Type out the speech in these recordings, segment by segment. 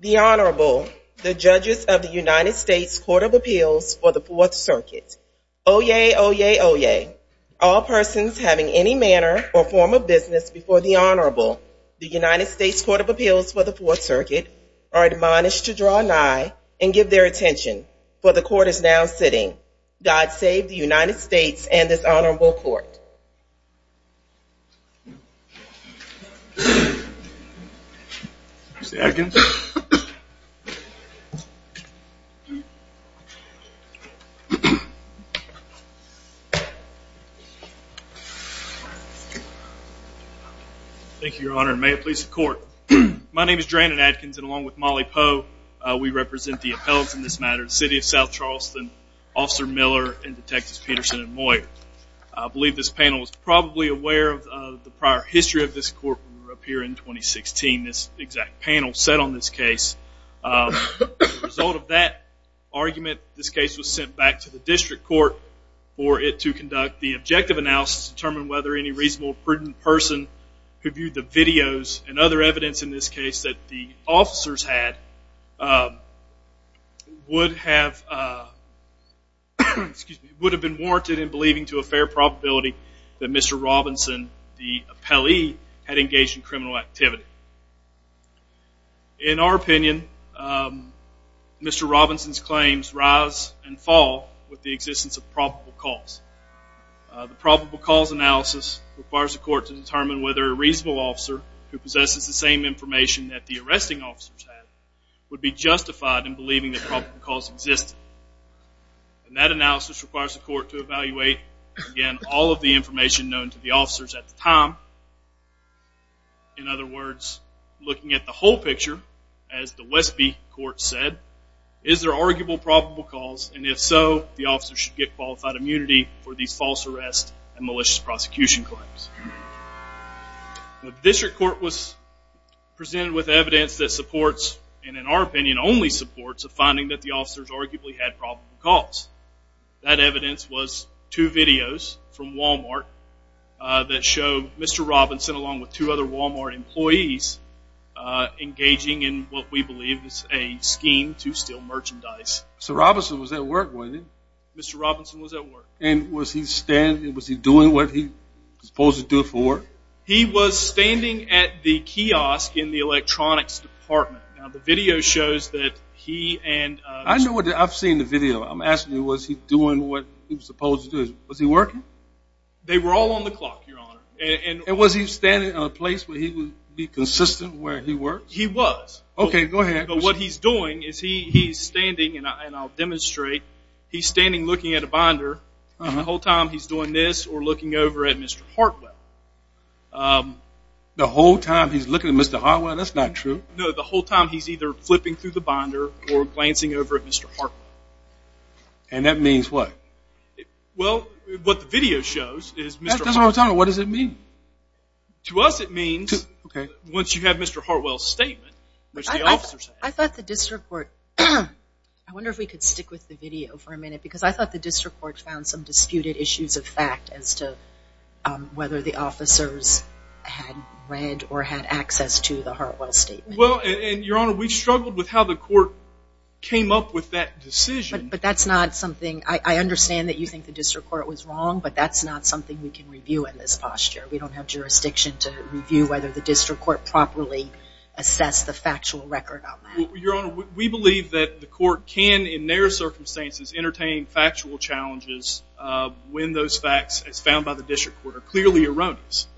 The Honorable, the Judges of the United States Court of Appeals for the Fourth Circuit. Oyez, oyez, oyez. All persons having any manner or form of business before the Honorable, the United States Court of Appeals for the Fourth Circuit, are admonished to draw nigh and give their attention, for the Court is now sitting. God save the United States and this Honorable Court. Thank you, Your Honor, and may it please the Court. My name is Dranon Adkins, and along with Molly Poe, we represent the appellants in this matter, the City of South Charleston, Officer Miller and Detectives Peterson and Moyer. I believe this panel is probably aware of the prior history of this Court when we were up here in 2016, this exact panel set on this case. As a result of that argument, this case was sent back to the District Court for it to conduct the objective analysis to determine whether any reasonable, prudent person who would have been warranted in believing to a fair probability that Mr. Robinson, the appellee, had engaged in criminal activity. In our opinion, Mr. Robinson's claims rise and fall with the existence of probable cause. The probable cause analysis requires the Court to determine whether a reasonable officer who possesses the same information that the arresting officers have would be justified in believing that probable cause existed. That analysis requires the Court to evaluate, again, all of the information known to the officers at the time. In other words, looking at the whole picture, as the Westby Court said, is there arguable probable cause, and if so, the officer should get qualified immunity for these false arrest and malicious prosecution claims. The District Court was presented with evidence that supports, and in our opinion only supports, a finding that the officers arguably had probable cause. That evidence was two videos from Walmart that show Mr. Robinson, along with two other Walmart employees, engaging in what we believe is a scheme to steal merchandise. So Robinson was at work, wasn't he? Mr. Robinson was at work. And was he doing what he was supposed to do for work? He was standing at the kiosk in the electronics department. Now, the video shows that he and— I know what—I've seen the video. I'm asking you, was he doing what he was supposed to do? Was he working? They were all on the clock, Your Honor, and— And was he standing at a place where he would be consistent where he worked? He was. OK, go ahead. But what he's doing is he's standing, and I'll demonstrate, he's standing looking at a binder, and the whole time he's doing this or looking over at Mr. Hartwell. The whole time he's looking at Mr. Hartwell? That's not true. No, the whole time he's either flipping through the binder or glancing over at Mr. Hartwell. And that means what? Well, what the video shows is Mr. Hartwell— That doesn't tell me. What does it mean? To us it means— OK. —once you have Mr. Hartwell's statement, which the officers have. I thought the district court—I wonder if we could stick with the video for a minute, because I thought the district court found some disputed issues of fact as to whether the officers had read or had access to the Hartwell statement. Well, and Your Honor, we struggled with how the court came up with that decision. But that's not something—I understand that you think the district court was wrong, but that's not something we can review in this posture. We don't have jurisdiction to review whether the district court properly assessed the factual record on that. Your Honor, we believe that the court can, in narrow circumstances, entertain factual challenges when those facts, as found by the district court, are clearly erroneous.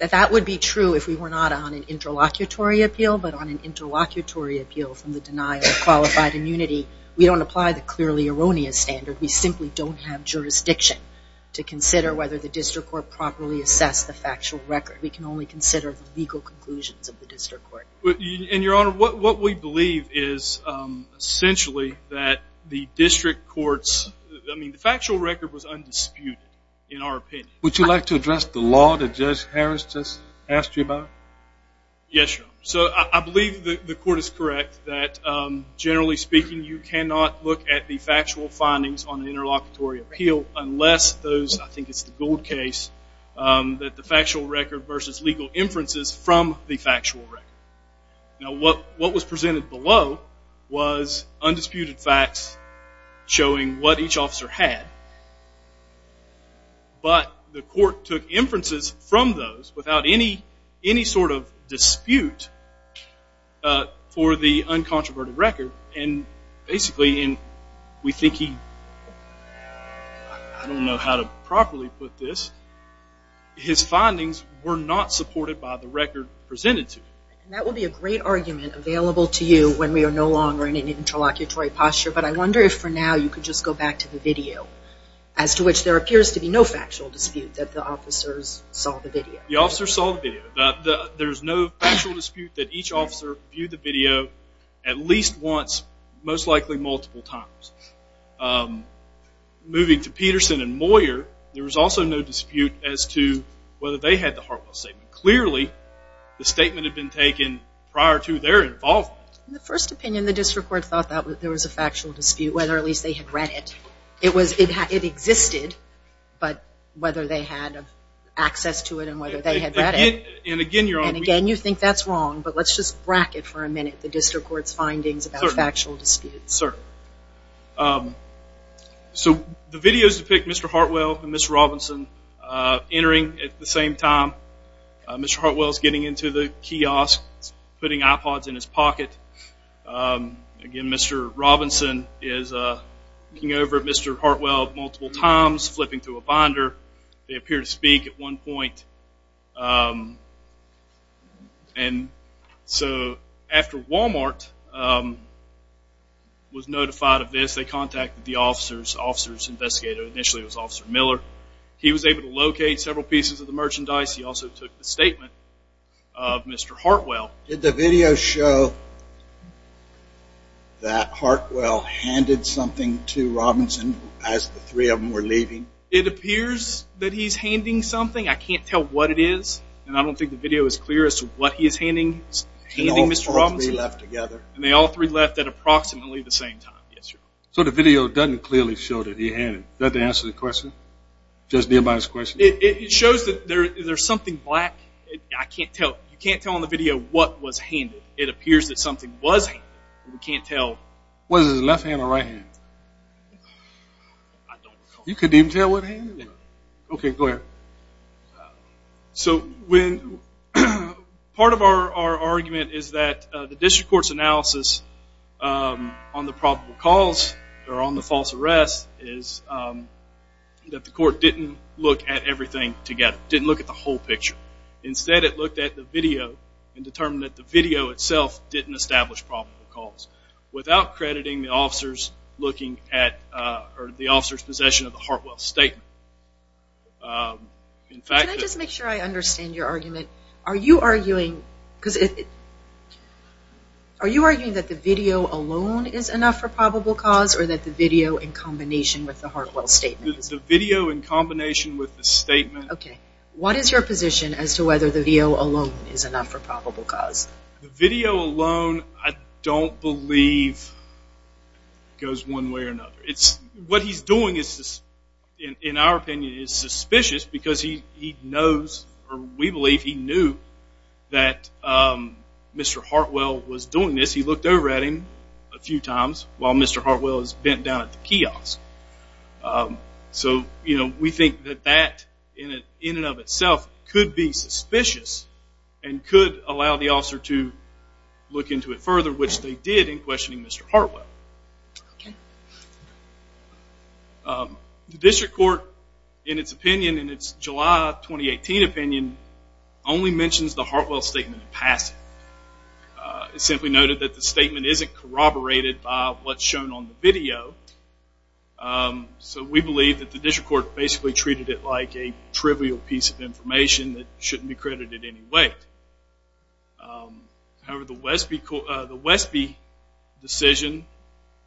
That would be true if we were not on an interlocutory appeal, but on an interlocutory appeal from the denial of qualified immunity, we don't apply the clearly erroneous standard. We simply don't have jurisdiction to consider whether the district court properly assessed the factual record. We can only consider the legal conclusions of the district court. And Your Honor, what we believe is essentially that the district court's—I mean, the factual record was undisputed, in our opinion. Would you like to address the law that Judge Harris just asked you about? Yes, Your Honor. So I believe the court is correct that, generally speaking, you cannot look at the factual findings on an interlocutory appeal unless those—I think it's the Gold case—that the factual record versus legal inferences from the factual record. Now, what was presented below was undisputed facts showing what each officer had, but the court took inferences from those without any sort of dispute for the uncontroverted record. And basically, we think he—I don't know how to properly put this—his findings were not supported by the record presented to him. And that will be a great argument available to you when we are no longer in an interlocutory posture, but I wonder if for now you could just go back to the video, as to which there appears to be no factual dispute that the officers saw the video. The officers saw the video. There's no factual dispute that each officer viewed the video at least once, most likely multiple times. Moving to Peterson and Moyer, there was also no dispute as to whether they had the Hartwell statement. Clearly, the statement had been taken prior to their involvement. In the first opinion, the district court thought that there was a factual dispute, whether at least they had read it. It was—it existed, but whether they had access to it and whether they had read it. And again, you're on— And again, you think that's wrong, but let's just bracket for a minute the district court's findings about factual disputes. Certainly. So, the videos depict Mr. Hartwell and Ms. Robinson entering at the same time. Mr. Hartwell's getting into the kiosk, putting iPods in his pocket. Again, Mr. Robinson is looking over at Mr. Hartwell multiple times, flipping through a binder. They appear to speak at one point. And so, after Walmart was notified of this, they contacted the officers. Officers investigated. Initially, it was Officer Miller. He was able to locate several pieces of the merchandise. He also took the statement of Mr. Hartwell. Did the video show that Hartwell handed something to Robinson as the three of them were leaving? It appears that he's handing something. I can't tell what it is, and I don't think the video is clear as to what he is handing Mr. Robinson. And all three left together. And they all three left at approximately the same time. Yes, sir. So, the video doesn't clearly show that he handed. Does that answer the question? Does it deal by his question? It shows that there's something black. I can't tell. You can't tell in the video what was handed. It appears that something was handed. We can't tell. Was it his left hand or right hand? You couldn't even tell what hand? Okay, go ahead. So, part of our argument is that the district court's analysis on the probable cause or on the false arrest is that the court didn't look at everything together. Didn't look at the whole picture. Instead, it looked at the video and determined that the video itself didn't establish probable cause without crediting the officer's possession of the Hartwell statement. In fact, Can I just make sure I understand your argument? Are you arguing that the video alone is enough for probable cause? Or that the video in combination with the Hartwell statement? The video in combination with the statement. Okay. What is your position as to whether the video alone is enough for probable cause? The video alone, I don't believe goes one way or another. What he's doing is, in our opinion, is suspicious because he knows or we believe he knew that Mr. Hartwell was doing this. He looked over at him a few times while Mr. Hartwell is bent down at the kiosk. So, we think that that, in and of itself, could be suspicious and could allow the officer to look into it further, which they did in questioning Mr. Hartwell. The district court, in its opinion, in its July 2018 opinion, only mentions the Hartwell statement in passing. It simply noted that the statement isn't corroborated by what's shown on the video. So, we believe that the district court basically treated it like a trivial piece of information that shouldn't be credited in any way. However, the Westby decision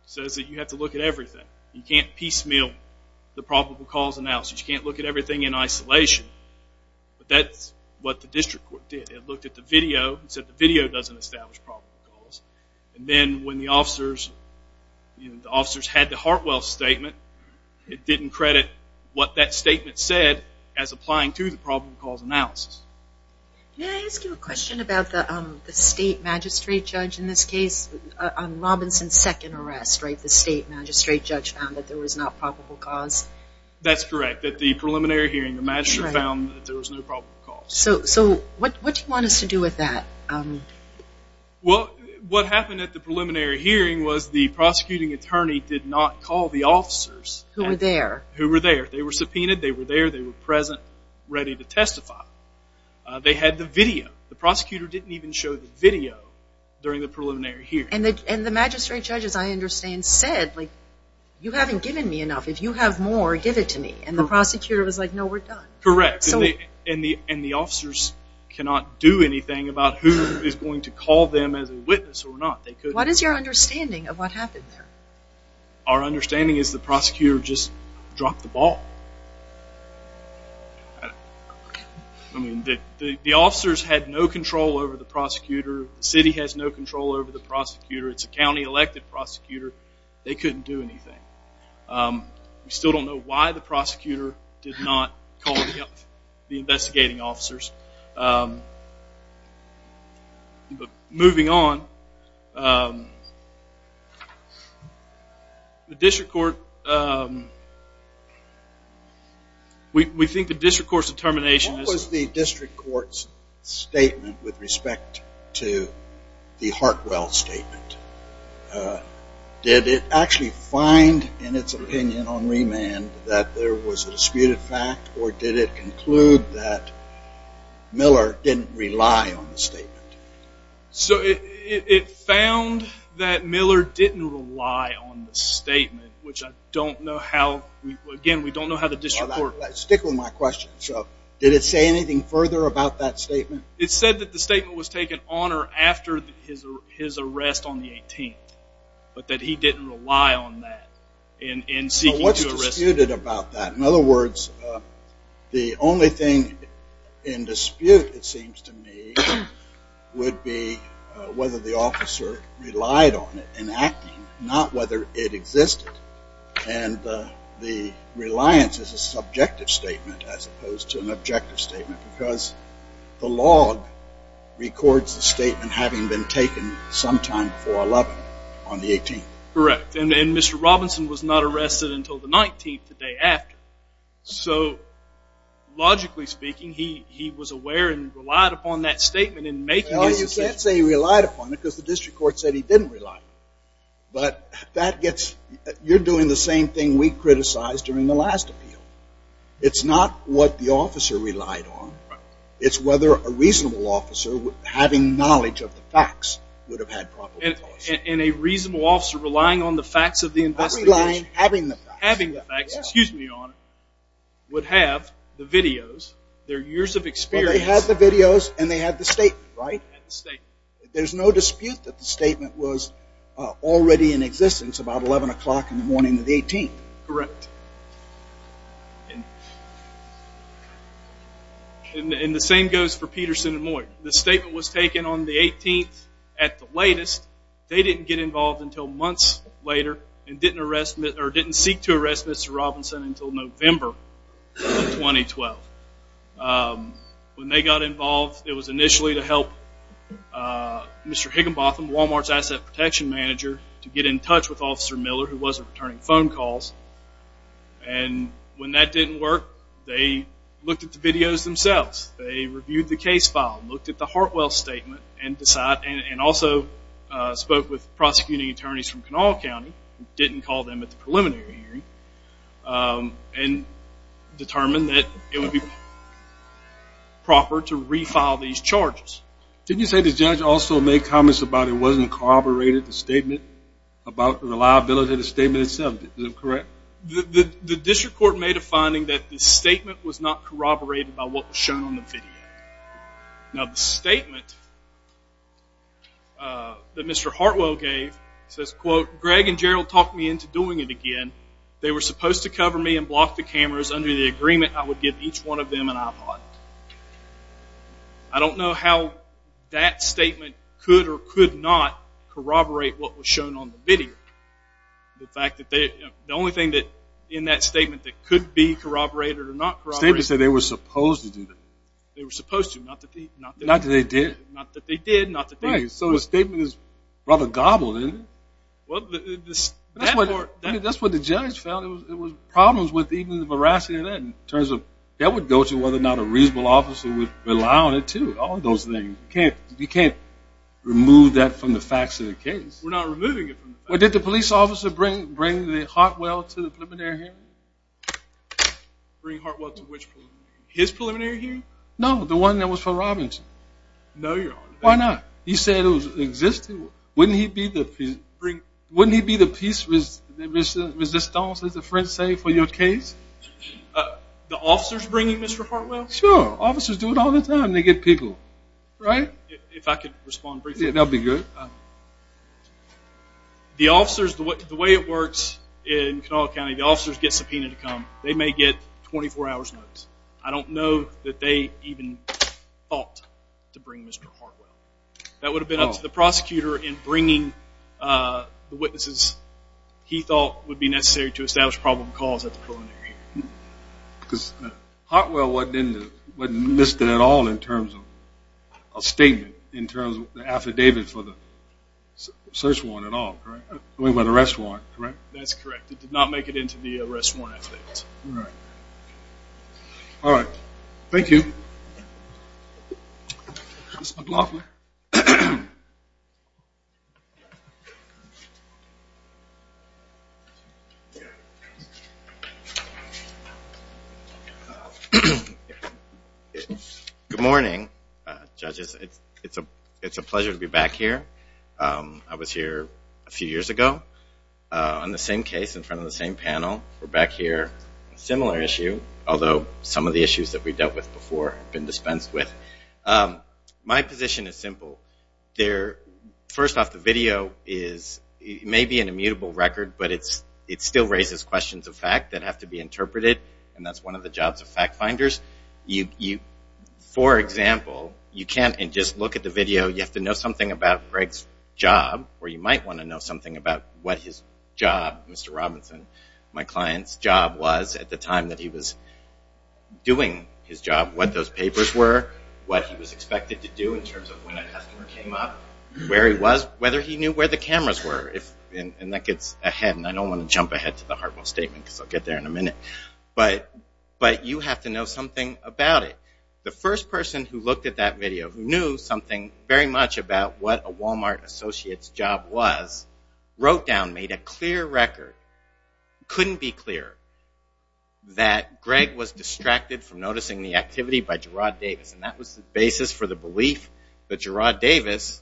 says that you have to look at everything. You can't piecemeal the probable cause analysis. You can't look at everything in isolation. But that's what the district court did. It looked at the video and said the video doesn't establish probable cause. And then, when the officers had the Hartwell statement, it didn't credit what that statement said as applying to the probable cause analysis. Can I ask you a question about the state magistrate judge in this case, on Robinson's second arrest, right? The state magistrate judge found that there was not probable cause. That's correct. The preliminary hearing, the magistrate found that there was no probable cause. So, what do you want us to do with that? Well, what happened at the preliminary hearing was the prosecuting attorney did not call the officers who were there. They were subpoenaed. They were there. They were present, ready to testify. They had the video. The prosecutor didn't even show the video during the preliminary hearing. And the magistrate judge, as I understand, said, you haven't given me enough. If you have more, give it to me. And the prosecutor was like, no, we're done. Correct. And the officers cannot do anything about who is going to call them as a witness or not. They couldn't. What is your understanding of what happened there? Our understanding is the prosecutor just dropped the ball. I mean, the officers had no control over the prosecutor. The city has no control over the prosecutor. It's a county elected prosecutor. They couldn't do anything. We still don't know why the prosecutor did not call the investigating officers. But moving on, the district court, we think the district court's determination is... What was the district court's statement with respect to the Hartwell statement? Did it actually find in its opinion on remand that there was a disputed fact? Or did it conclude that Miller didn't rely on the statement? So it found that Miller didn't rely on the statement, which I don't know how... Again, we don't know how the district court... Stick with my question. So did it say anything further about that statement? It said that the statement was taken on or after his arrest on the 18th, but that he didn't rely on that in seeking to arrest him. So what's disputed about that? In other words, the only thing in dispute, it seems to me, would be whether the officer relied on it in acting, not whether it existed. And the reliance is a subjective statement as opposed to an objective statement, because the log records the statement having been taken sometime before 11 on the 18th. Correct. And Mr. Robinson was not arrested until the 19th, the day after. So logically speaking, he was aware and relied upon that statement in making... Well, you can't say he relied upon it because the district court said he didn't rely on it. But that gets... You're doing the same thing we criticized during the last appeal. It's not what the officer relied on. It's whether a reasonable officer having knowledge of the facts would have had proper... And a reasonable officer relying on the facts of the investigation... Having the facts. Having the facts, excuse me, Your Honor, would have the videos, their years of experience... Well, they had the videos and they had the statement, right? Had the statement. There's no dispute that the statement was already in existence about 11 o'clock in the morning of the 18th. Correct. And the same goes for Peterson and Moyt. The statement was taken on the 18th at the latest. They didn't get involved until months later and didn't arrest... Or didn't seek to arrest Mr. Robinson until November of 2012. When they got involved, it was initially to help Mr. Higginbotham, Walmart's asset protection manager, to get in touch with Officer Miller, who wasn't returning phone calls. And when that didn't work, they looked at the videos themselves. They reviewed the case file, looked at the Hartwell statement, and decided... And also spoke with prosecuting attorneys from Kanawha County, didn't call them at the preliminary hearing, and determined that it would be proper to refile these charges. Didn't you say the judge also made comments about it wasn't corroborated, the statement about the reliability of the statement itself? Is that correct? The district court made a finding that the statement was not corroborated by what was shown on the video. Now the statement that Mr. Hartwell gave says, quote, Greg and Gerald talked me into doing it again. They were supposed to cover me and block the cameras. Under the agreement, I would give each one of them an iPod. I don't know how that statement could or could not corroborate what was shown on the video. The fact that the only thing that in that statement that could be corroborated or not corroborated... The statement said they were supposed to do that. They were supposed to, not that they... Not that they did. Not that they did, not that they didn't. So the statement is rather gobbled, isn't it? Well, that part... That's what the judge found. It was problems with even the veracity of that in terms of that would go to whether or not a reasonable officer would rely on it, too. All of those things. You can't remove that from the facts of the case. We're not removing it from the facts. Well, did the police officer bring Hartwell to the preliminary hearing? Bring Hartwell to which preliminary hearing? His preliminary hearing? No, the one that was for Robinson. No, your honor. Why not? He said it was existing. Wouldn't he be the piece... Wouldn't he be the piece resistance, as the French say, for your case? Uh, the officers bringing Mr. Hartwell? Sure. Officers do it all the time. They get people, right? If I could respond briefly. That'd be good. The officers, the way it works in Kanawha County, the officers get subpoenaed to come. They may get 24 hours notice. I don't know that they even thought to bring Mr. Hartwell. That would have been up to the prosecutor in bringing the witnesses he thought would be necessary to establish probable cause at the preliminary hearing. Because Hartwell wasn't in the... Wasn't listed at all in terms of a statement, in terms of the affidavit for the search warrant at all, correct? I mean, for the arrest warrant, correct? That's correct. It did not make it into the arrest warrant affidavit. All right. All right. Thank you. Mr. McLaughlin? Yeah. Good morning, judges. It's a pleasure to be back here. I was here a few years ago on the same case in front of the same panel. We're back here, a similar issue, although some of the issues that we dealt with before have been dispensed with. My position is simple. They're... First off, the video is maybe an immutable record, but it still raises questions of fact that have to be interpreted, and that's one of the jobs of fact finders. For example, you can't just look at the video, you have to know something about Greg's job, or you might want to know something about what his job, Mr. Robinson, my client's job was at the time that he was doing his job, what those papers were, what he was expected to do in terms of when a customer came up, where he was, whether he knew where the cameras were, and that gets ahead, and I don't want to jump ahead to the Hartwell statement, because I'll get there in a minute, but you have to know something about it. The first person who looked at that video, who knew something very much about what a Walmart associate's job was, wrote down, made a clear record, couldn't be clearer, that Greg was distracted from noticing the activity by Gerard Davis, and that was the basis for the belief that Gerard Davis,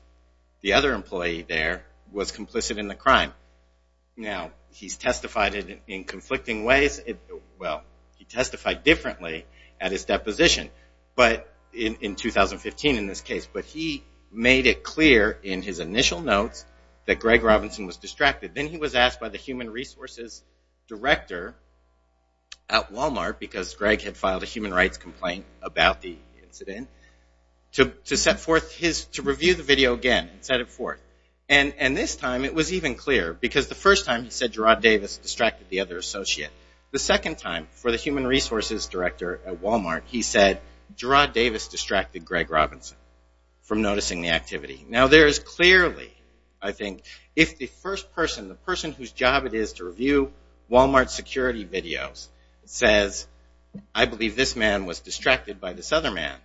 the other employee there, was complicit in the crime. Now, he's testified in conflicting ways, well, he testified differently at his deposition, but in 2015 in this case, but he made it clear in his initial notes that Greg Robinson was distracted. Then he was asked by the human resources director at Walmart, because Greg had filed a human rights complaint about the incident, to review the video again and set it forth, and this time it was even clearer, because the first time he said Gerard Davis distracted the other associate, the second time for the human resources director at Walmart, he said Gerard Davis distracted Greg Robinson from noticing the activity. Now, there is clearly, I think, if the first person, the person whose job it is to review Walmart security videos, says, I believe this man was distracted by this other man,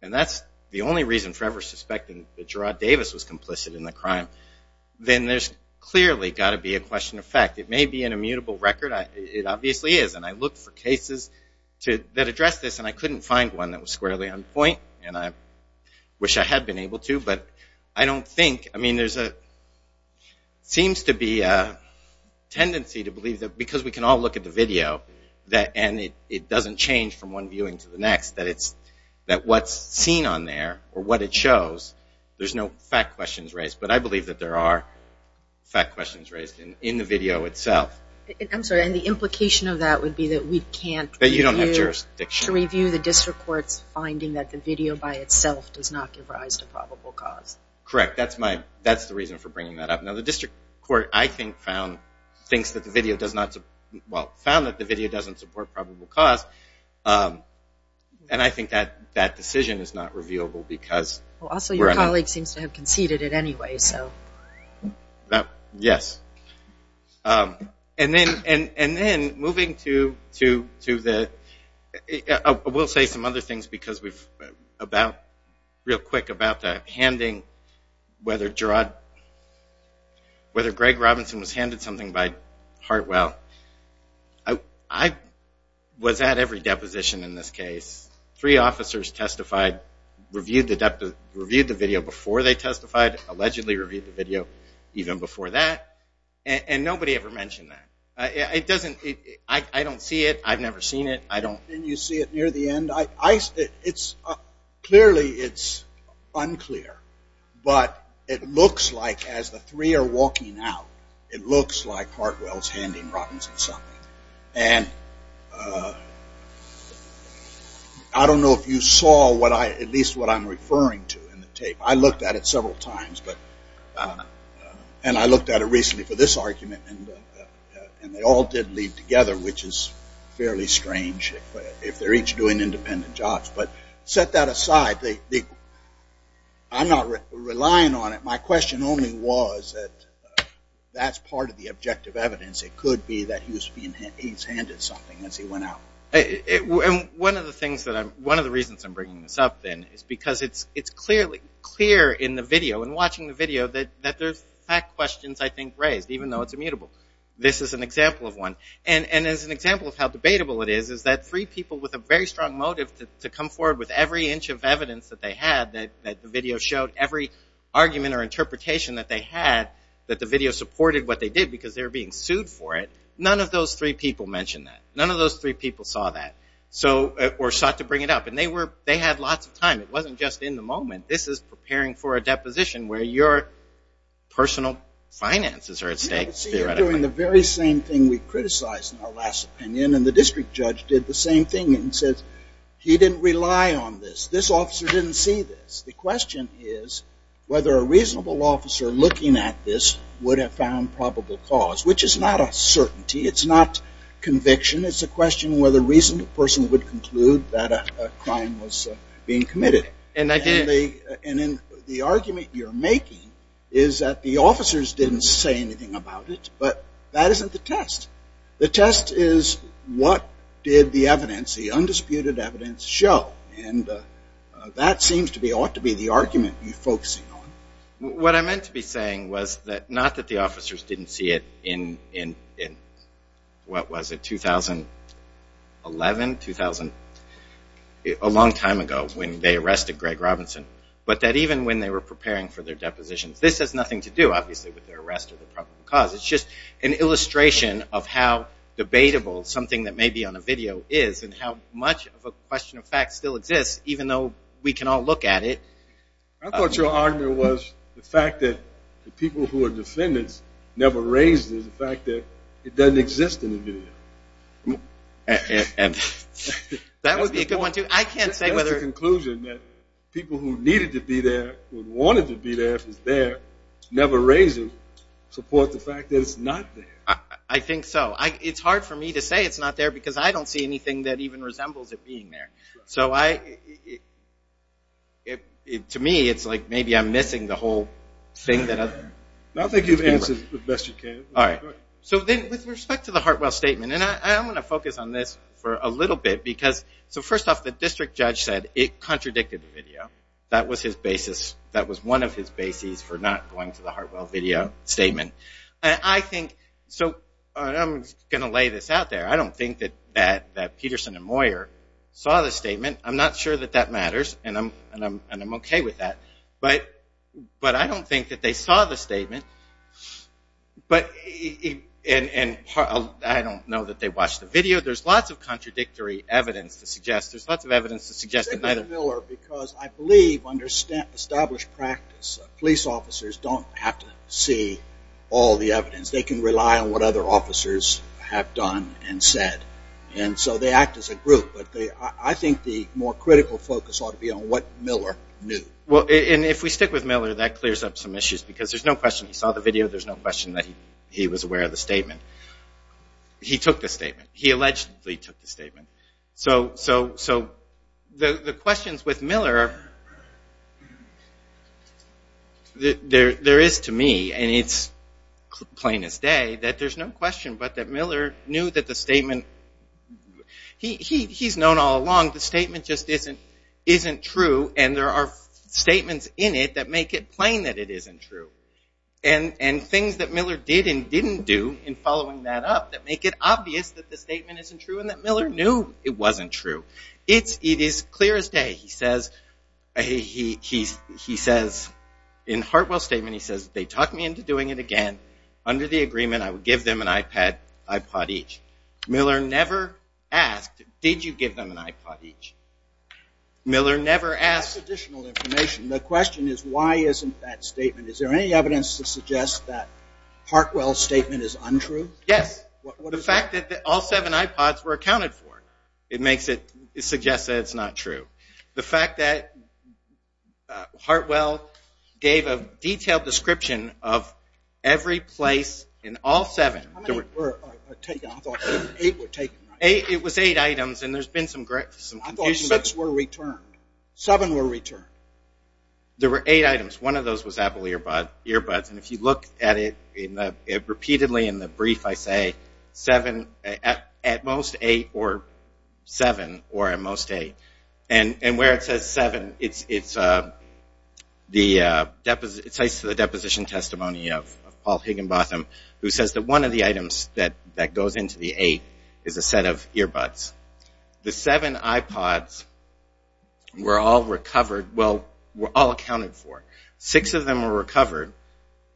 and that's the only reason for ever suspecting that Gerard Davis was complicit in the crime, then there's clearly got to be a question of fact. It may be an immutable record, it obviously is, and I looked for cases that address this, and I couldn't find one that was squarely on point, and I wish I had been able to, but I don't think, I mean, there's a, seems to be a tendency to believe that, because we can all look at the video, and it doesn't change from one viewing to the next, that it's, that what's seen on there, or what it shows, there's no fact questions raised, but I believe that there are fact questions raised in the video itself. I'm sorry, and the implication of that would be that we can't review, That you don't have jurisdiction. To review the district court's finding that the video by itself does not give rise to probable cause. Correct. That's my, that's the reason for bringing that up. The district court, I think, found things that the video does not, well, found that the video doesn't support probable cause, and I think that that decision is not reviewable, because also your colleague seems to have conceded it anyway, so. Yes, and then moving to the, we'll say some other things, because we've about, real quick about that, handing, whether Gerard, whether Greg Robinson was handed something by Hartwell. I was at every deposition in this case. Three officers testified, reviewed the video before they testified, allegedly reviewed the video even before that, and nobody ever mentioned that. It doesn't, I don't see it, I've never seen it, I don't. Didn't you see it near the end? Clearly, it's unclear, but it looks like, as the three are walking out, it looks like Hartwell's handing Robinson something, and I don't know if you saw what I, at least what I'm referring to in the tape. I looked at it several times, but, and I looked at it recently for this argument, and they all did lead together, which is fairly strange, if they're each doing independent jobs, but set that aside. I'm not relying on it. My question only was that that's part of the objective evidence. It could be that he was being, he's handed something as he went out. One of the things that I'm, one of the reasons I'm bringing this up then, is because it's clearly clear in the video, in watching the video, that there's fact questions, I think, raised, even though it's immutable. This is an example of one, and as an example of how debatable it is, that three people with a very strong motive to come forward with every inch of evidence that they had, that the video showed, every argument or interpretation that they had, that the video supported what they did, because they were being sued for it. None of those three people mentioned that. None of those three people saw that, or sought to bring it up, and they were, they had lots of time. It wasn't just in the moment. This is preparing for a deposition where your personal finances are at stake. You're doing the very same thing we criticized in our last opinion, and the district judge did the same thing, and says, he didn't rely on this. This officer didn't see this. The question is whether a reasonable officer looking at this would have found probable cause, which is not a certainty. It's not conviction. It's a question whether a reasonable person would conclude that a crime was being committed, and the argument you're making is that the officers didn't say anything about it, but that isn't the test. The test is what did the evidence, the undisputed evidence show, and that seems to be, ought to be the argument you're focusing on. What I meant to be saying was that, not that the officers didn't see it in what was it, 2011, 2000, a long time ago, when they arrested Greg Robinson, but that even when they were preparing for their depositions, this has nothing to do, obviously, with their arrest or their probable cause. It's just an illustration of how debatable something that may be on a video is, and how much of a question of fact still exists, even though we can all look at it. I thought your argument was the fact that the people who are defendants never raised the fact that it doesn't exist in the video. That would be a good one, too. I can't say whether... That's the conclusion that people who needed to be there, who wanted to be there, if it's there, never raised it, support the fact that it's not there. I think so. It's hard for me to say it's not there because I don't see anything that even resembles it being there. So I... To me, it's like maybe I'm missing the whole thing that... I think you've answered it the best you can. All right. So then, with respect to the Hartwell statement, and I want to focus on this for a little bit because... So first off, the district judge said it contradicted the video. That was his basis. For not going to the Hartwell video statement. And I think... So I'm going to lay this out there. I don't think that Peterson and Moyer saw the statement. I'm not sure that that matters, and I'm okay with that. But I don't think that they saw the statement. But... And I don't know that they watched the video. There's lots of contradictory evidence to suggest... There's lots of evidence to suggest that neither... Because I believe under established practice, police officers don't have to see all the evidence. They can rely on what other officers have done and said. And so they act as a group. But I think the more critical focus ought to be on what Miller knew. Well, and if we stick with Miller, that clears up some issues. Because there's no question he saw the video. There's no question that he was aware of the statement. He took the statement. He allegedly took the statement. So the questions with Miller... There is to me, and it's plain as day, that there's no question but that Miller knew that the statement... He's known all along the statement just isn't true. And there are statements in it that make it plain that it isn't true. And things that Miller did and didn't do in following that up that make it obvious that the statement isn't true and that Miller knew it wasn't true. It is clear as day. He says... In Hartwell's statement, he says, they talked me into doing it again. Under the agreement, I would give them an iPad, iPod each. Miller never asked, did you give them an iPod each? Miller never asked... That's additional information. The question is, why isn't that statement? Is there any evidence to suggest that Hartwell's statement is untrue? Yes. The fact that all seven iPods were accounted for. It makes it... It suggests that it's not true. The fact that Hartwell gave a detailed description of every place in all seven... How many were taken? I thought eight were taken, right? It was eight items and there's been some confusion... I thought six were returned. Seven were returned. There were eight items. One of those was Apple earbuds. If you look at it repeatedly in the brief, I say, at most eight or seven or at most eight. And where it says seven, it's the deposition testimony of Paul Higginbotham, who says that one of the items that goes into the eight is a set of earbuds. The seven iPods were all recovered... Well, were all accounted for. Six of them were recovered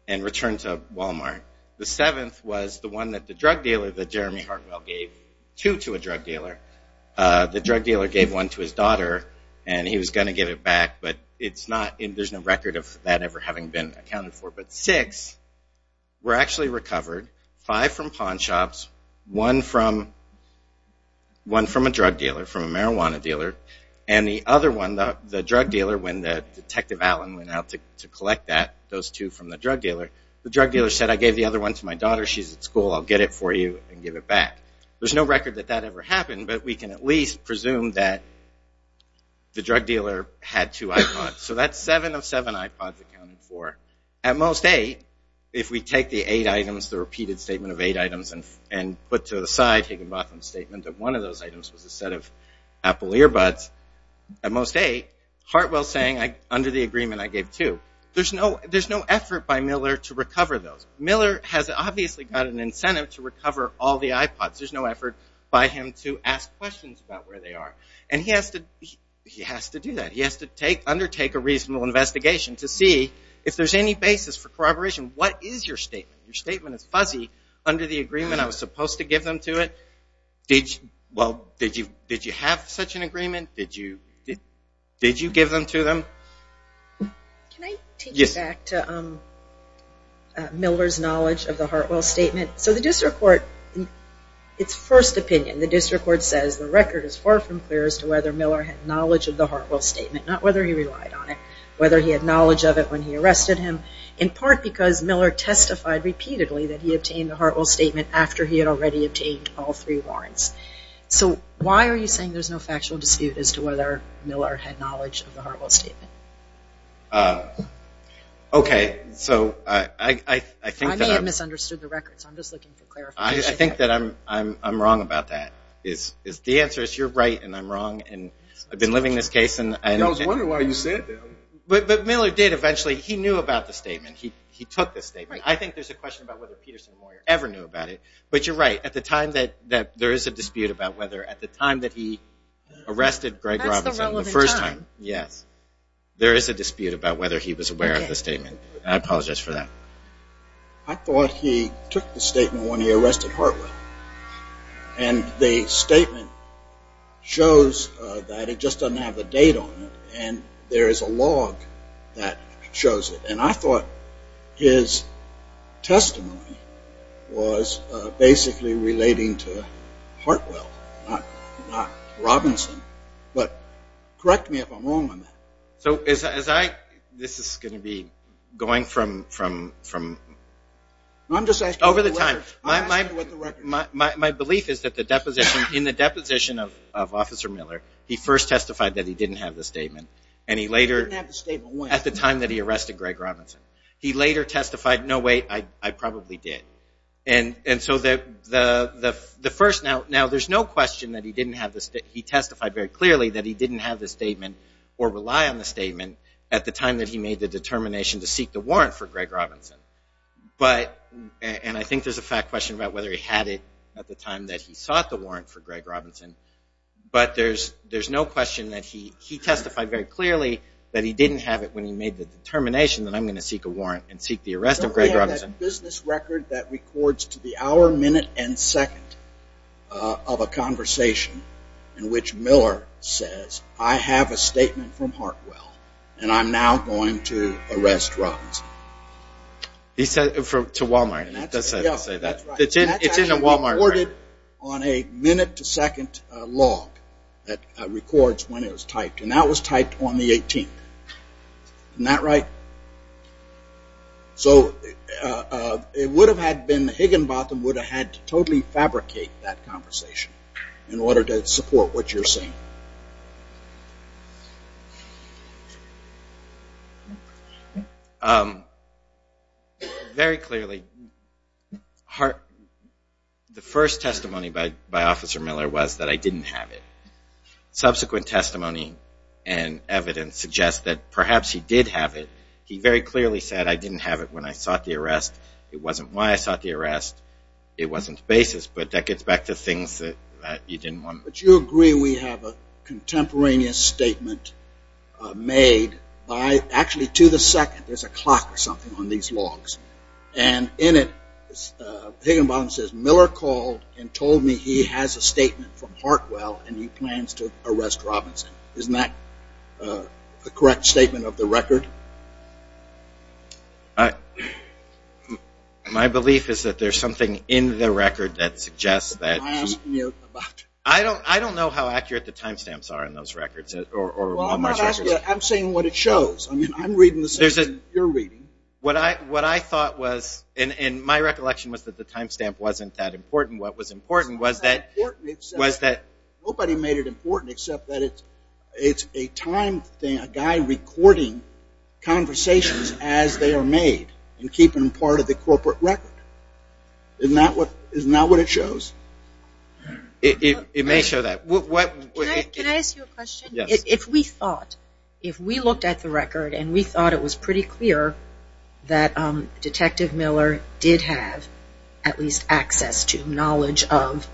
and returned to Walmart. The seventh was the one that the drug dealer... That Jeremy Hartwell gave two to a drug dealer. The drug dealer gave one to his daughter and he was going to give it back. But it's not... There's no record of that ever having been accounted for. But six were actually recovered. Five from pawn shops. One from a drug dealer, from a marijuana dealer. And the other one, the drug dealer, when Detective Allen went out to collect that, those two from the drug dealer, the drug dealer said, I gave the other one to my daughter. She's at school. I'll get it for you and give it back. There's no record that that ever happened. But we can at least presume that the drug dealer had two iPods. So that's seven of seven iPods accounted for. At most eight, if we take the eight items, the repeated statement of eight items, and put to the side Higginbotham's statement that one of those items was a set of Apple earbuds, at most eight, Hartwell saying, under the agreement, I gave two. There's no effort by Miller to recover those. Miller has obviously got an incentive to recover all the iPods. There's no effort by him to ask questions about where they are. And he has to do that. He has to undertake a reasonable investigation to see if there's any basis for corroboration. What is your statement? Your statement is fuzzy. Under the agreement, I was supposed to give them to it. Did you have such an agreement? Did you give them to them? Can I take you back to Miller's knowledge of the Hartwell statement? So the district court, its first opinion, the district court says the record is far from clear as to whether Miller had knowledge of the Hartwell statement, not whether he relied on it, whether he had knowledge of it when he arrested him, in part because Miller testified repeatedly that he obtained the Hartwell statement after he had already obtained all three warrants. So why are you saying there's no factual dispute as to whether Miller had knowledge of the Hartwell statement? Okay, so I think that I'm... I may have misunderstood the records. I'm just looking for clarification. I think that I'm wrong about that. The answer is you're right and I'm wrong. And I've been living this case and... I was wondering why you said that. But Miller did eventually. He knew about the statement. He took the statement. I think there's a question about whether Peterson or Moyer ever knew about it. But you're right. At the time that there is a dispute about whether at the time that he arrested Greg Robinson, the first time, yes, there is a dispute about whether he was aware of the statement. I apologize for that. I thought he took the statement when he arrested Hartwell. And the statement shows that it just doesn't have a date on it. And there is a log that shows it. And I thought his testimony was basically relating to Hartwell, not Robinson. But correct me if I'm wrong on that. So as I... This is going to be going from... I'm just asking about the records. Over the time... My belief is that the deposition... In the deposition of Officer Miller, he first testified that he didn't have the statement. And he later... He didn't have the statement when? At the time that he arrested Greg Robinson. He later testified, no, wait, I probably did. And so the first... Now, there's no question that he didn't have the... He testified very clearly that he didn't have the statement or rely on the statement at the time that he made the determination to seek the warrant for Greg Robinson. But... And I think there's a fact question about whether he had it at the time that he sought the warrant for Greg Robinson. But there's no question that he testified very clearly that he didn't have it when he made the determination that I'm going to seek a warrant and seek the arrest of Greg Robinson. So we have that business record that records to the hour, minute, and second of a conversation in which Miller says, I have a statement from Hartwell and I'm now going to arrest Robinson. He said to Walmart and it does say that. Yeah, that's right. It's in a Walmart record. On a minute to second log that records when it was typed. And that was typed on the 18th. Isn't that right? So it would have had been Higginbotham would have had to totally fabricate that conversation in order to support what you're saying. Very clearly, Hart... The first testimony by Officer Miller was that I didn't have it. Subsequent testimony and evidence suggests that perhaps he did have it. He very clearly said I didn't have it when I sought the arrest. It wasn't why I sought the arrest. It wasn't the basis. But that gets back to things that you didn't want. But you agree we have a contemporaneous statement made by actually to the second. There's a clock or something on these logs. And in it, Higginbotham says, Miller called and told me he has a statement from Hartwell and he plans to arrest Robinson. Isn't that a correct statement of the record? My belief is that there's something in the record that suggests that... Am I asking you about... I don't know how accurate the timestamps are in those records or Walmart records. I'm saying what it shows. I mean, I'm reading the same as you're reading. What I thought was... And my recollection was that the timestamp wasn't that important. What was important was that... Nobody made it important except that it's a time thing, a guy recording conversations as they are made and keeping them part of the corporate record. Isn't that what it shows? It may show that. Can I ask you a question? If we thought, if we looked at the record and we thought it was pretty clear that Detective Miller did have at least access to knowledge of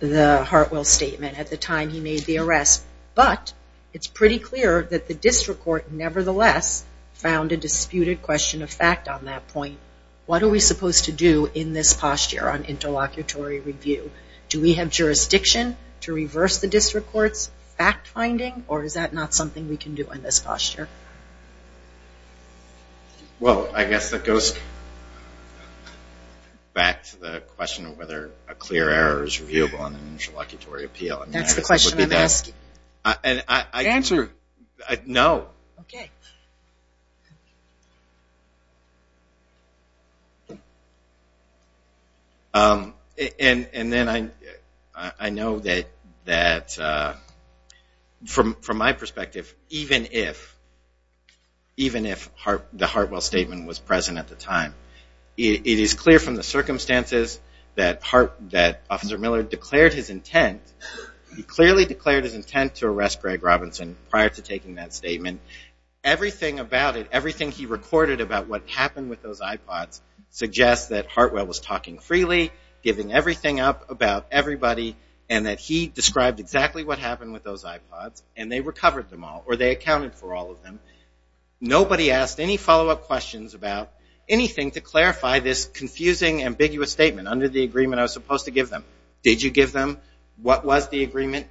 the Hartwell statement at the time he made the arrest, but it's pretty clear that the district court nevertheless found a disputed question of fact on that point. What are we supposed to do in this posture on interlocutory review? Do we have jurisdiction to reverse the district court's fact finding or is that not something we can do in this posture? Well, I guess that goes back to the question of whether a clear error is reviewable on an interlocutory appeal. That's the question I'm asking. And I... Answer. No. Okay. And then I know that from my perspective, even if the Hartwell statement was present at the time, it is clear from the circumstances that Officer Miller declared his intent, he clearly declared his intent to arrest Greg Robinson prior to taking that statement. Everything about it, everything he recorded about what happened with those iPods suggests that Hartwell was talking freely, giving everything up about everybody and that he described exactly what happened with those iPods and they recovered them all or they accounted for all of them. Nobody asked any follow-up questions about anything to clarify this confusing, ambiguous statement under the agreement I was supposed to give them. Did you give them? What was the agreement?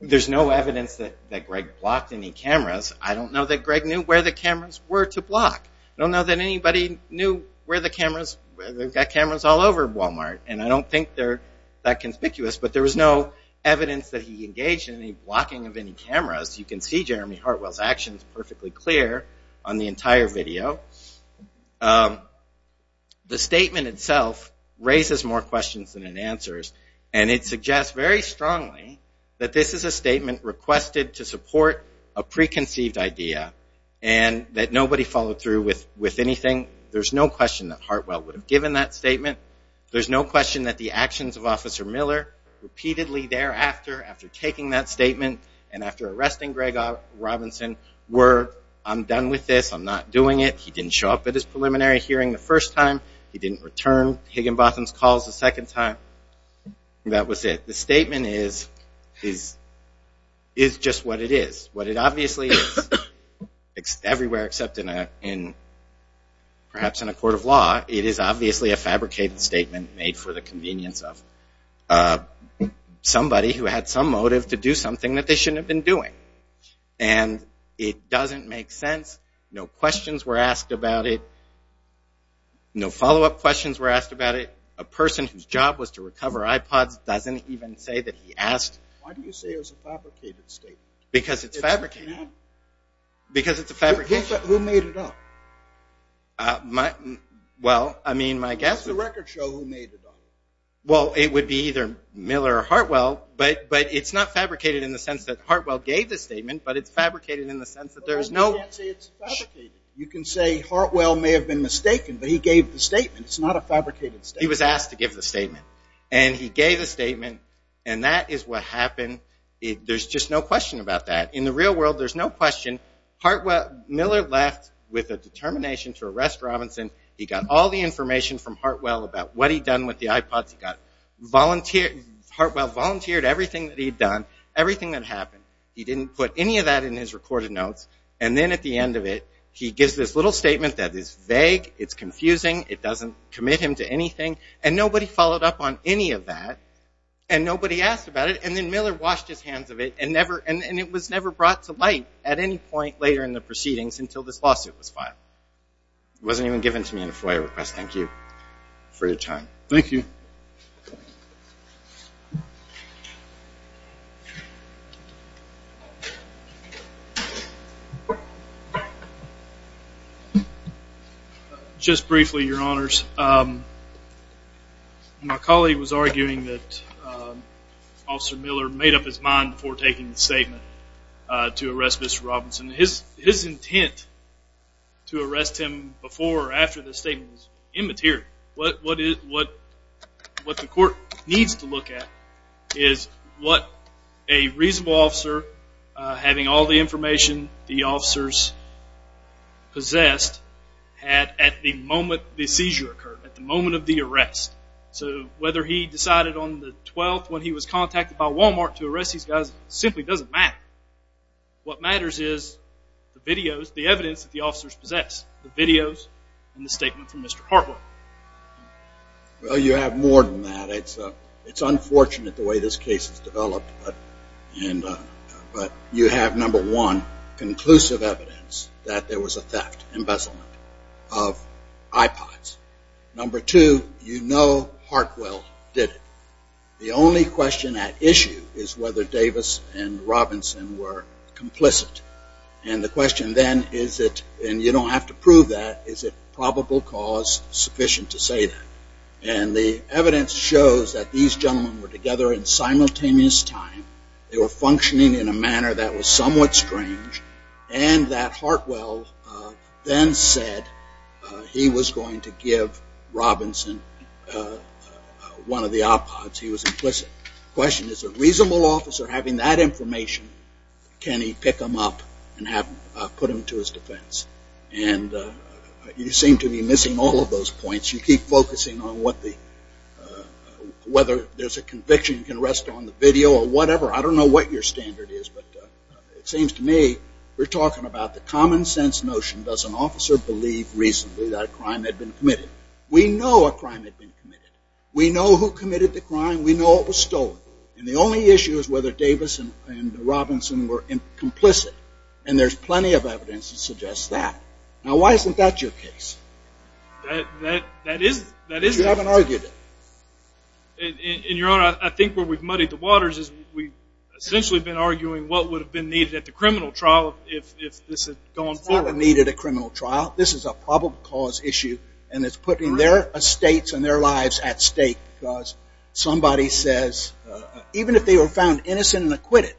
There's no evidence that Greg blocked any cameras. I don't know that Greg knew where the cameras were to block. I don't know that anybody knew where the cameras... They've got cameras all over Walmart and I don't think they're that conspicuous but there was no evidence that he engaged in any blocking of any cameras. You can see Jeremy Hartwell's actions perfectly clear on the entire video. The statement itself raises more questions than it answers and it suggests very strongly that this is a statement requested to support a preconceived idea and that nobody followed through with anything. There's no question that Hartwell would have given that statement. There's no question that the actions of Officer Miller repeatedly thereafter after taking that statement and after arresting Greg Robinson were, I'm done with this, I'm not doing it. He didn't show up at his preliminary hearing the first time. He didn't return Higginbotham's calls the second time. That was it. The statement is just what it is. What it obviously is, everywhere except perhaps in a court of law, it is obviously a fabricated statement made for the convenience of somebody who had some motive to do something that they shouldn't have been doing and it doesn't make sense. No questions were asked about it. No follow-up questions were asked about it. A person whose job was to recover iPods doesn't even say that he asked. Why do you say it was a fabricated statement? Because it's fabricated. Because it's a fabrication. Who made it up? Uh, my, well, I mean, my guess... It's the record show who made it up. Well, it would be either Miller or Hartwell, but it's not fabricated in the sense that Hartwell gave the statement, but it's fabricated in the sense that there's no... Well, you can't say it's fabricated. You can say Hartwell may have been mistaken, but he gave the statement. It's not a fabricated statement. He was asked to give the statement and he gave the statement and that is what happened. There's just no question about that. In the real world, there's no question. Hartwell... Miller left with a determination to arrest Robinson. He got all the information from Hartwell about what he'd done with the iPods. He got volunteer... Hartwell volunteered everything that he'd done, everything that happened. He didn't put any of that in his recorded notes and then at the end of it, he gives this little statement that is vague, it's confusing, it doesn't commit him to anything and nobody followed up on any of that and nobody asked about it and then Miller washed his hands of it and it was never brought to light at any point later in the proceedings until this lawsuit was filed. It wasn't even given to me in a FOIA request. Thank you for your time. Thank you. Just briefly, your honors. My colleague was arguing that Officer Miller made up his mind before taking the statement to arrest Mr. Robinson. His intent to arrest him before or after the statement was immaterial. What the court needs to look at is what a reasonable officer, having all the information the officers possessed, had at the moment the seizure occurred, at the moment of the arrest. So whether he decided on the 12th when he was contacted by Walmart to arrest these guys simply doesn't matter. What matters is the videos, the evidence that the officers possess, the videos and the statement from Mr. Hartwell. Well, you have more than that. It's unfortunate the way this case has developed but you have number one, conclusive evidence that there was a theft, embezzlement of iPods. Number two, you know Hartwell did it. The only question at issue is whether Davis and Robinson were complicit. And the question then is it, and you don't have to prove that, is it probable cause sufficient to say that? And the evidence shows that these gentlemen were together in simultaneous time. They were functioning in a manner that was somewhat strange and that Hartwell then said he was going to give Robinson one of the iPods. He was implicit. Question is a reasonable officer having that information, can he pick them up and put them to his defense? And you seem to be missing all of those points. You keep focusing on whether there's a conviction, you can rest on the video or whatever. I don't know what your standard is but it seems to me we're talking about the common sense notion does an officer believe reasonably that a crime had been committed? We know a crime had been committed. We know who committed the crime. We know it was stolen. And the only issue is whether Davis and Robinson were complicit. And there's plenty of evidence that suggests that. Now why isn't that your case? That is, that is. You haven't argued it. And your honor, I think where we've muddied the waters is we've essentially been arguing what would have been needed at the criminal trial if this had gone forward. It's not a needed a criminal trial. This is a probable cause issue and it's putting their estates and their lives at stake because somebody says, even if they were found innocent and acquitted,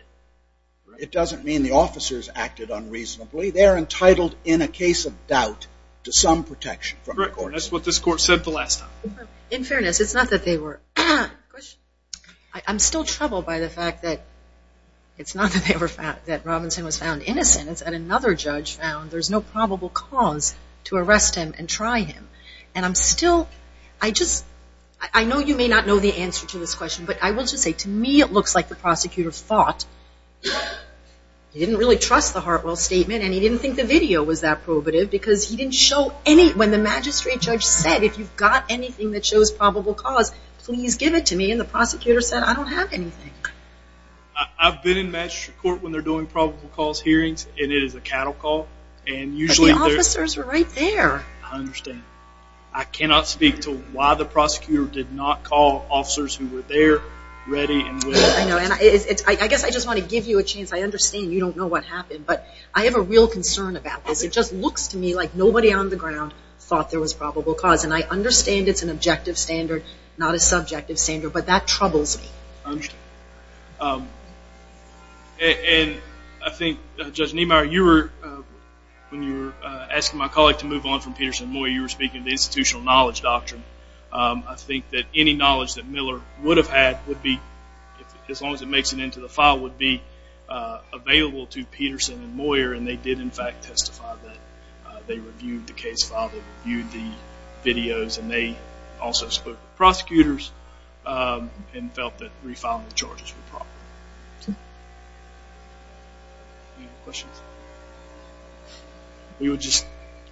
it doesn't mean the officers acted unreasonably. They're entitled in a case of doubt to some protection. Correct, that's what this court said the last time. In fairness, it's not that they were. I'm still troubled by the fact that it's not that they were found, that Robinson was found innocent. Another judge found there's no probable cause to arrest him and try him. And I'm still, I just, I know you may not know the answer to this question, but I will just say to me it looks like the prosecutor fought. He didn't really trust the Hartwell statement and he didn't think the video was that probative because he didn't show any, when the magistrate judge said, if you've got anything that shows probable cause, please give it to me. And the prosecutor said, I don't have anything. I've been in magistrate court when they're doing probable cause hearings and it is a cattle call. And usually the officers are right there. I understand. I cannot speak to why the prosecutor did not call officers who were there ready. I know. And I guess I just want to give you a chance. I understand you don't know what happened, but I have a real concern about this. It just looks to me like nobody on the ground thought there was probable cause. And I understand it's an objective standard, not a subjective standard, but that troubles me. Um, and I think Judge Niemeyer, you were, when you were asking my colleague to move on from Peterson and Moyer, you were speaking of the institutional knowledge doctrine. I think that any knowledge that Miller would have had would be, as long as it makes it into the file, would be available to Peterson and Moyer. And they did in fact testify that they reviewed the case file. They reviewed the videos and they also spoke to prosecutors um, and felt that we found the charges were proper. Any other questions? We would just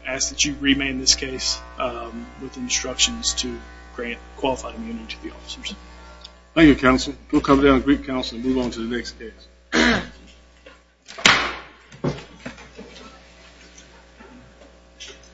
ask that you remain in this case, um, with instructions to grant qualified immunity to the officers. Thank you, counsel. We'll come down to brief counsel and move on to the next case.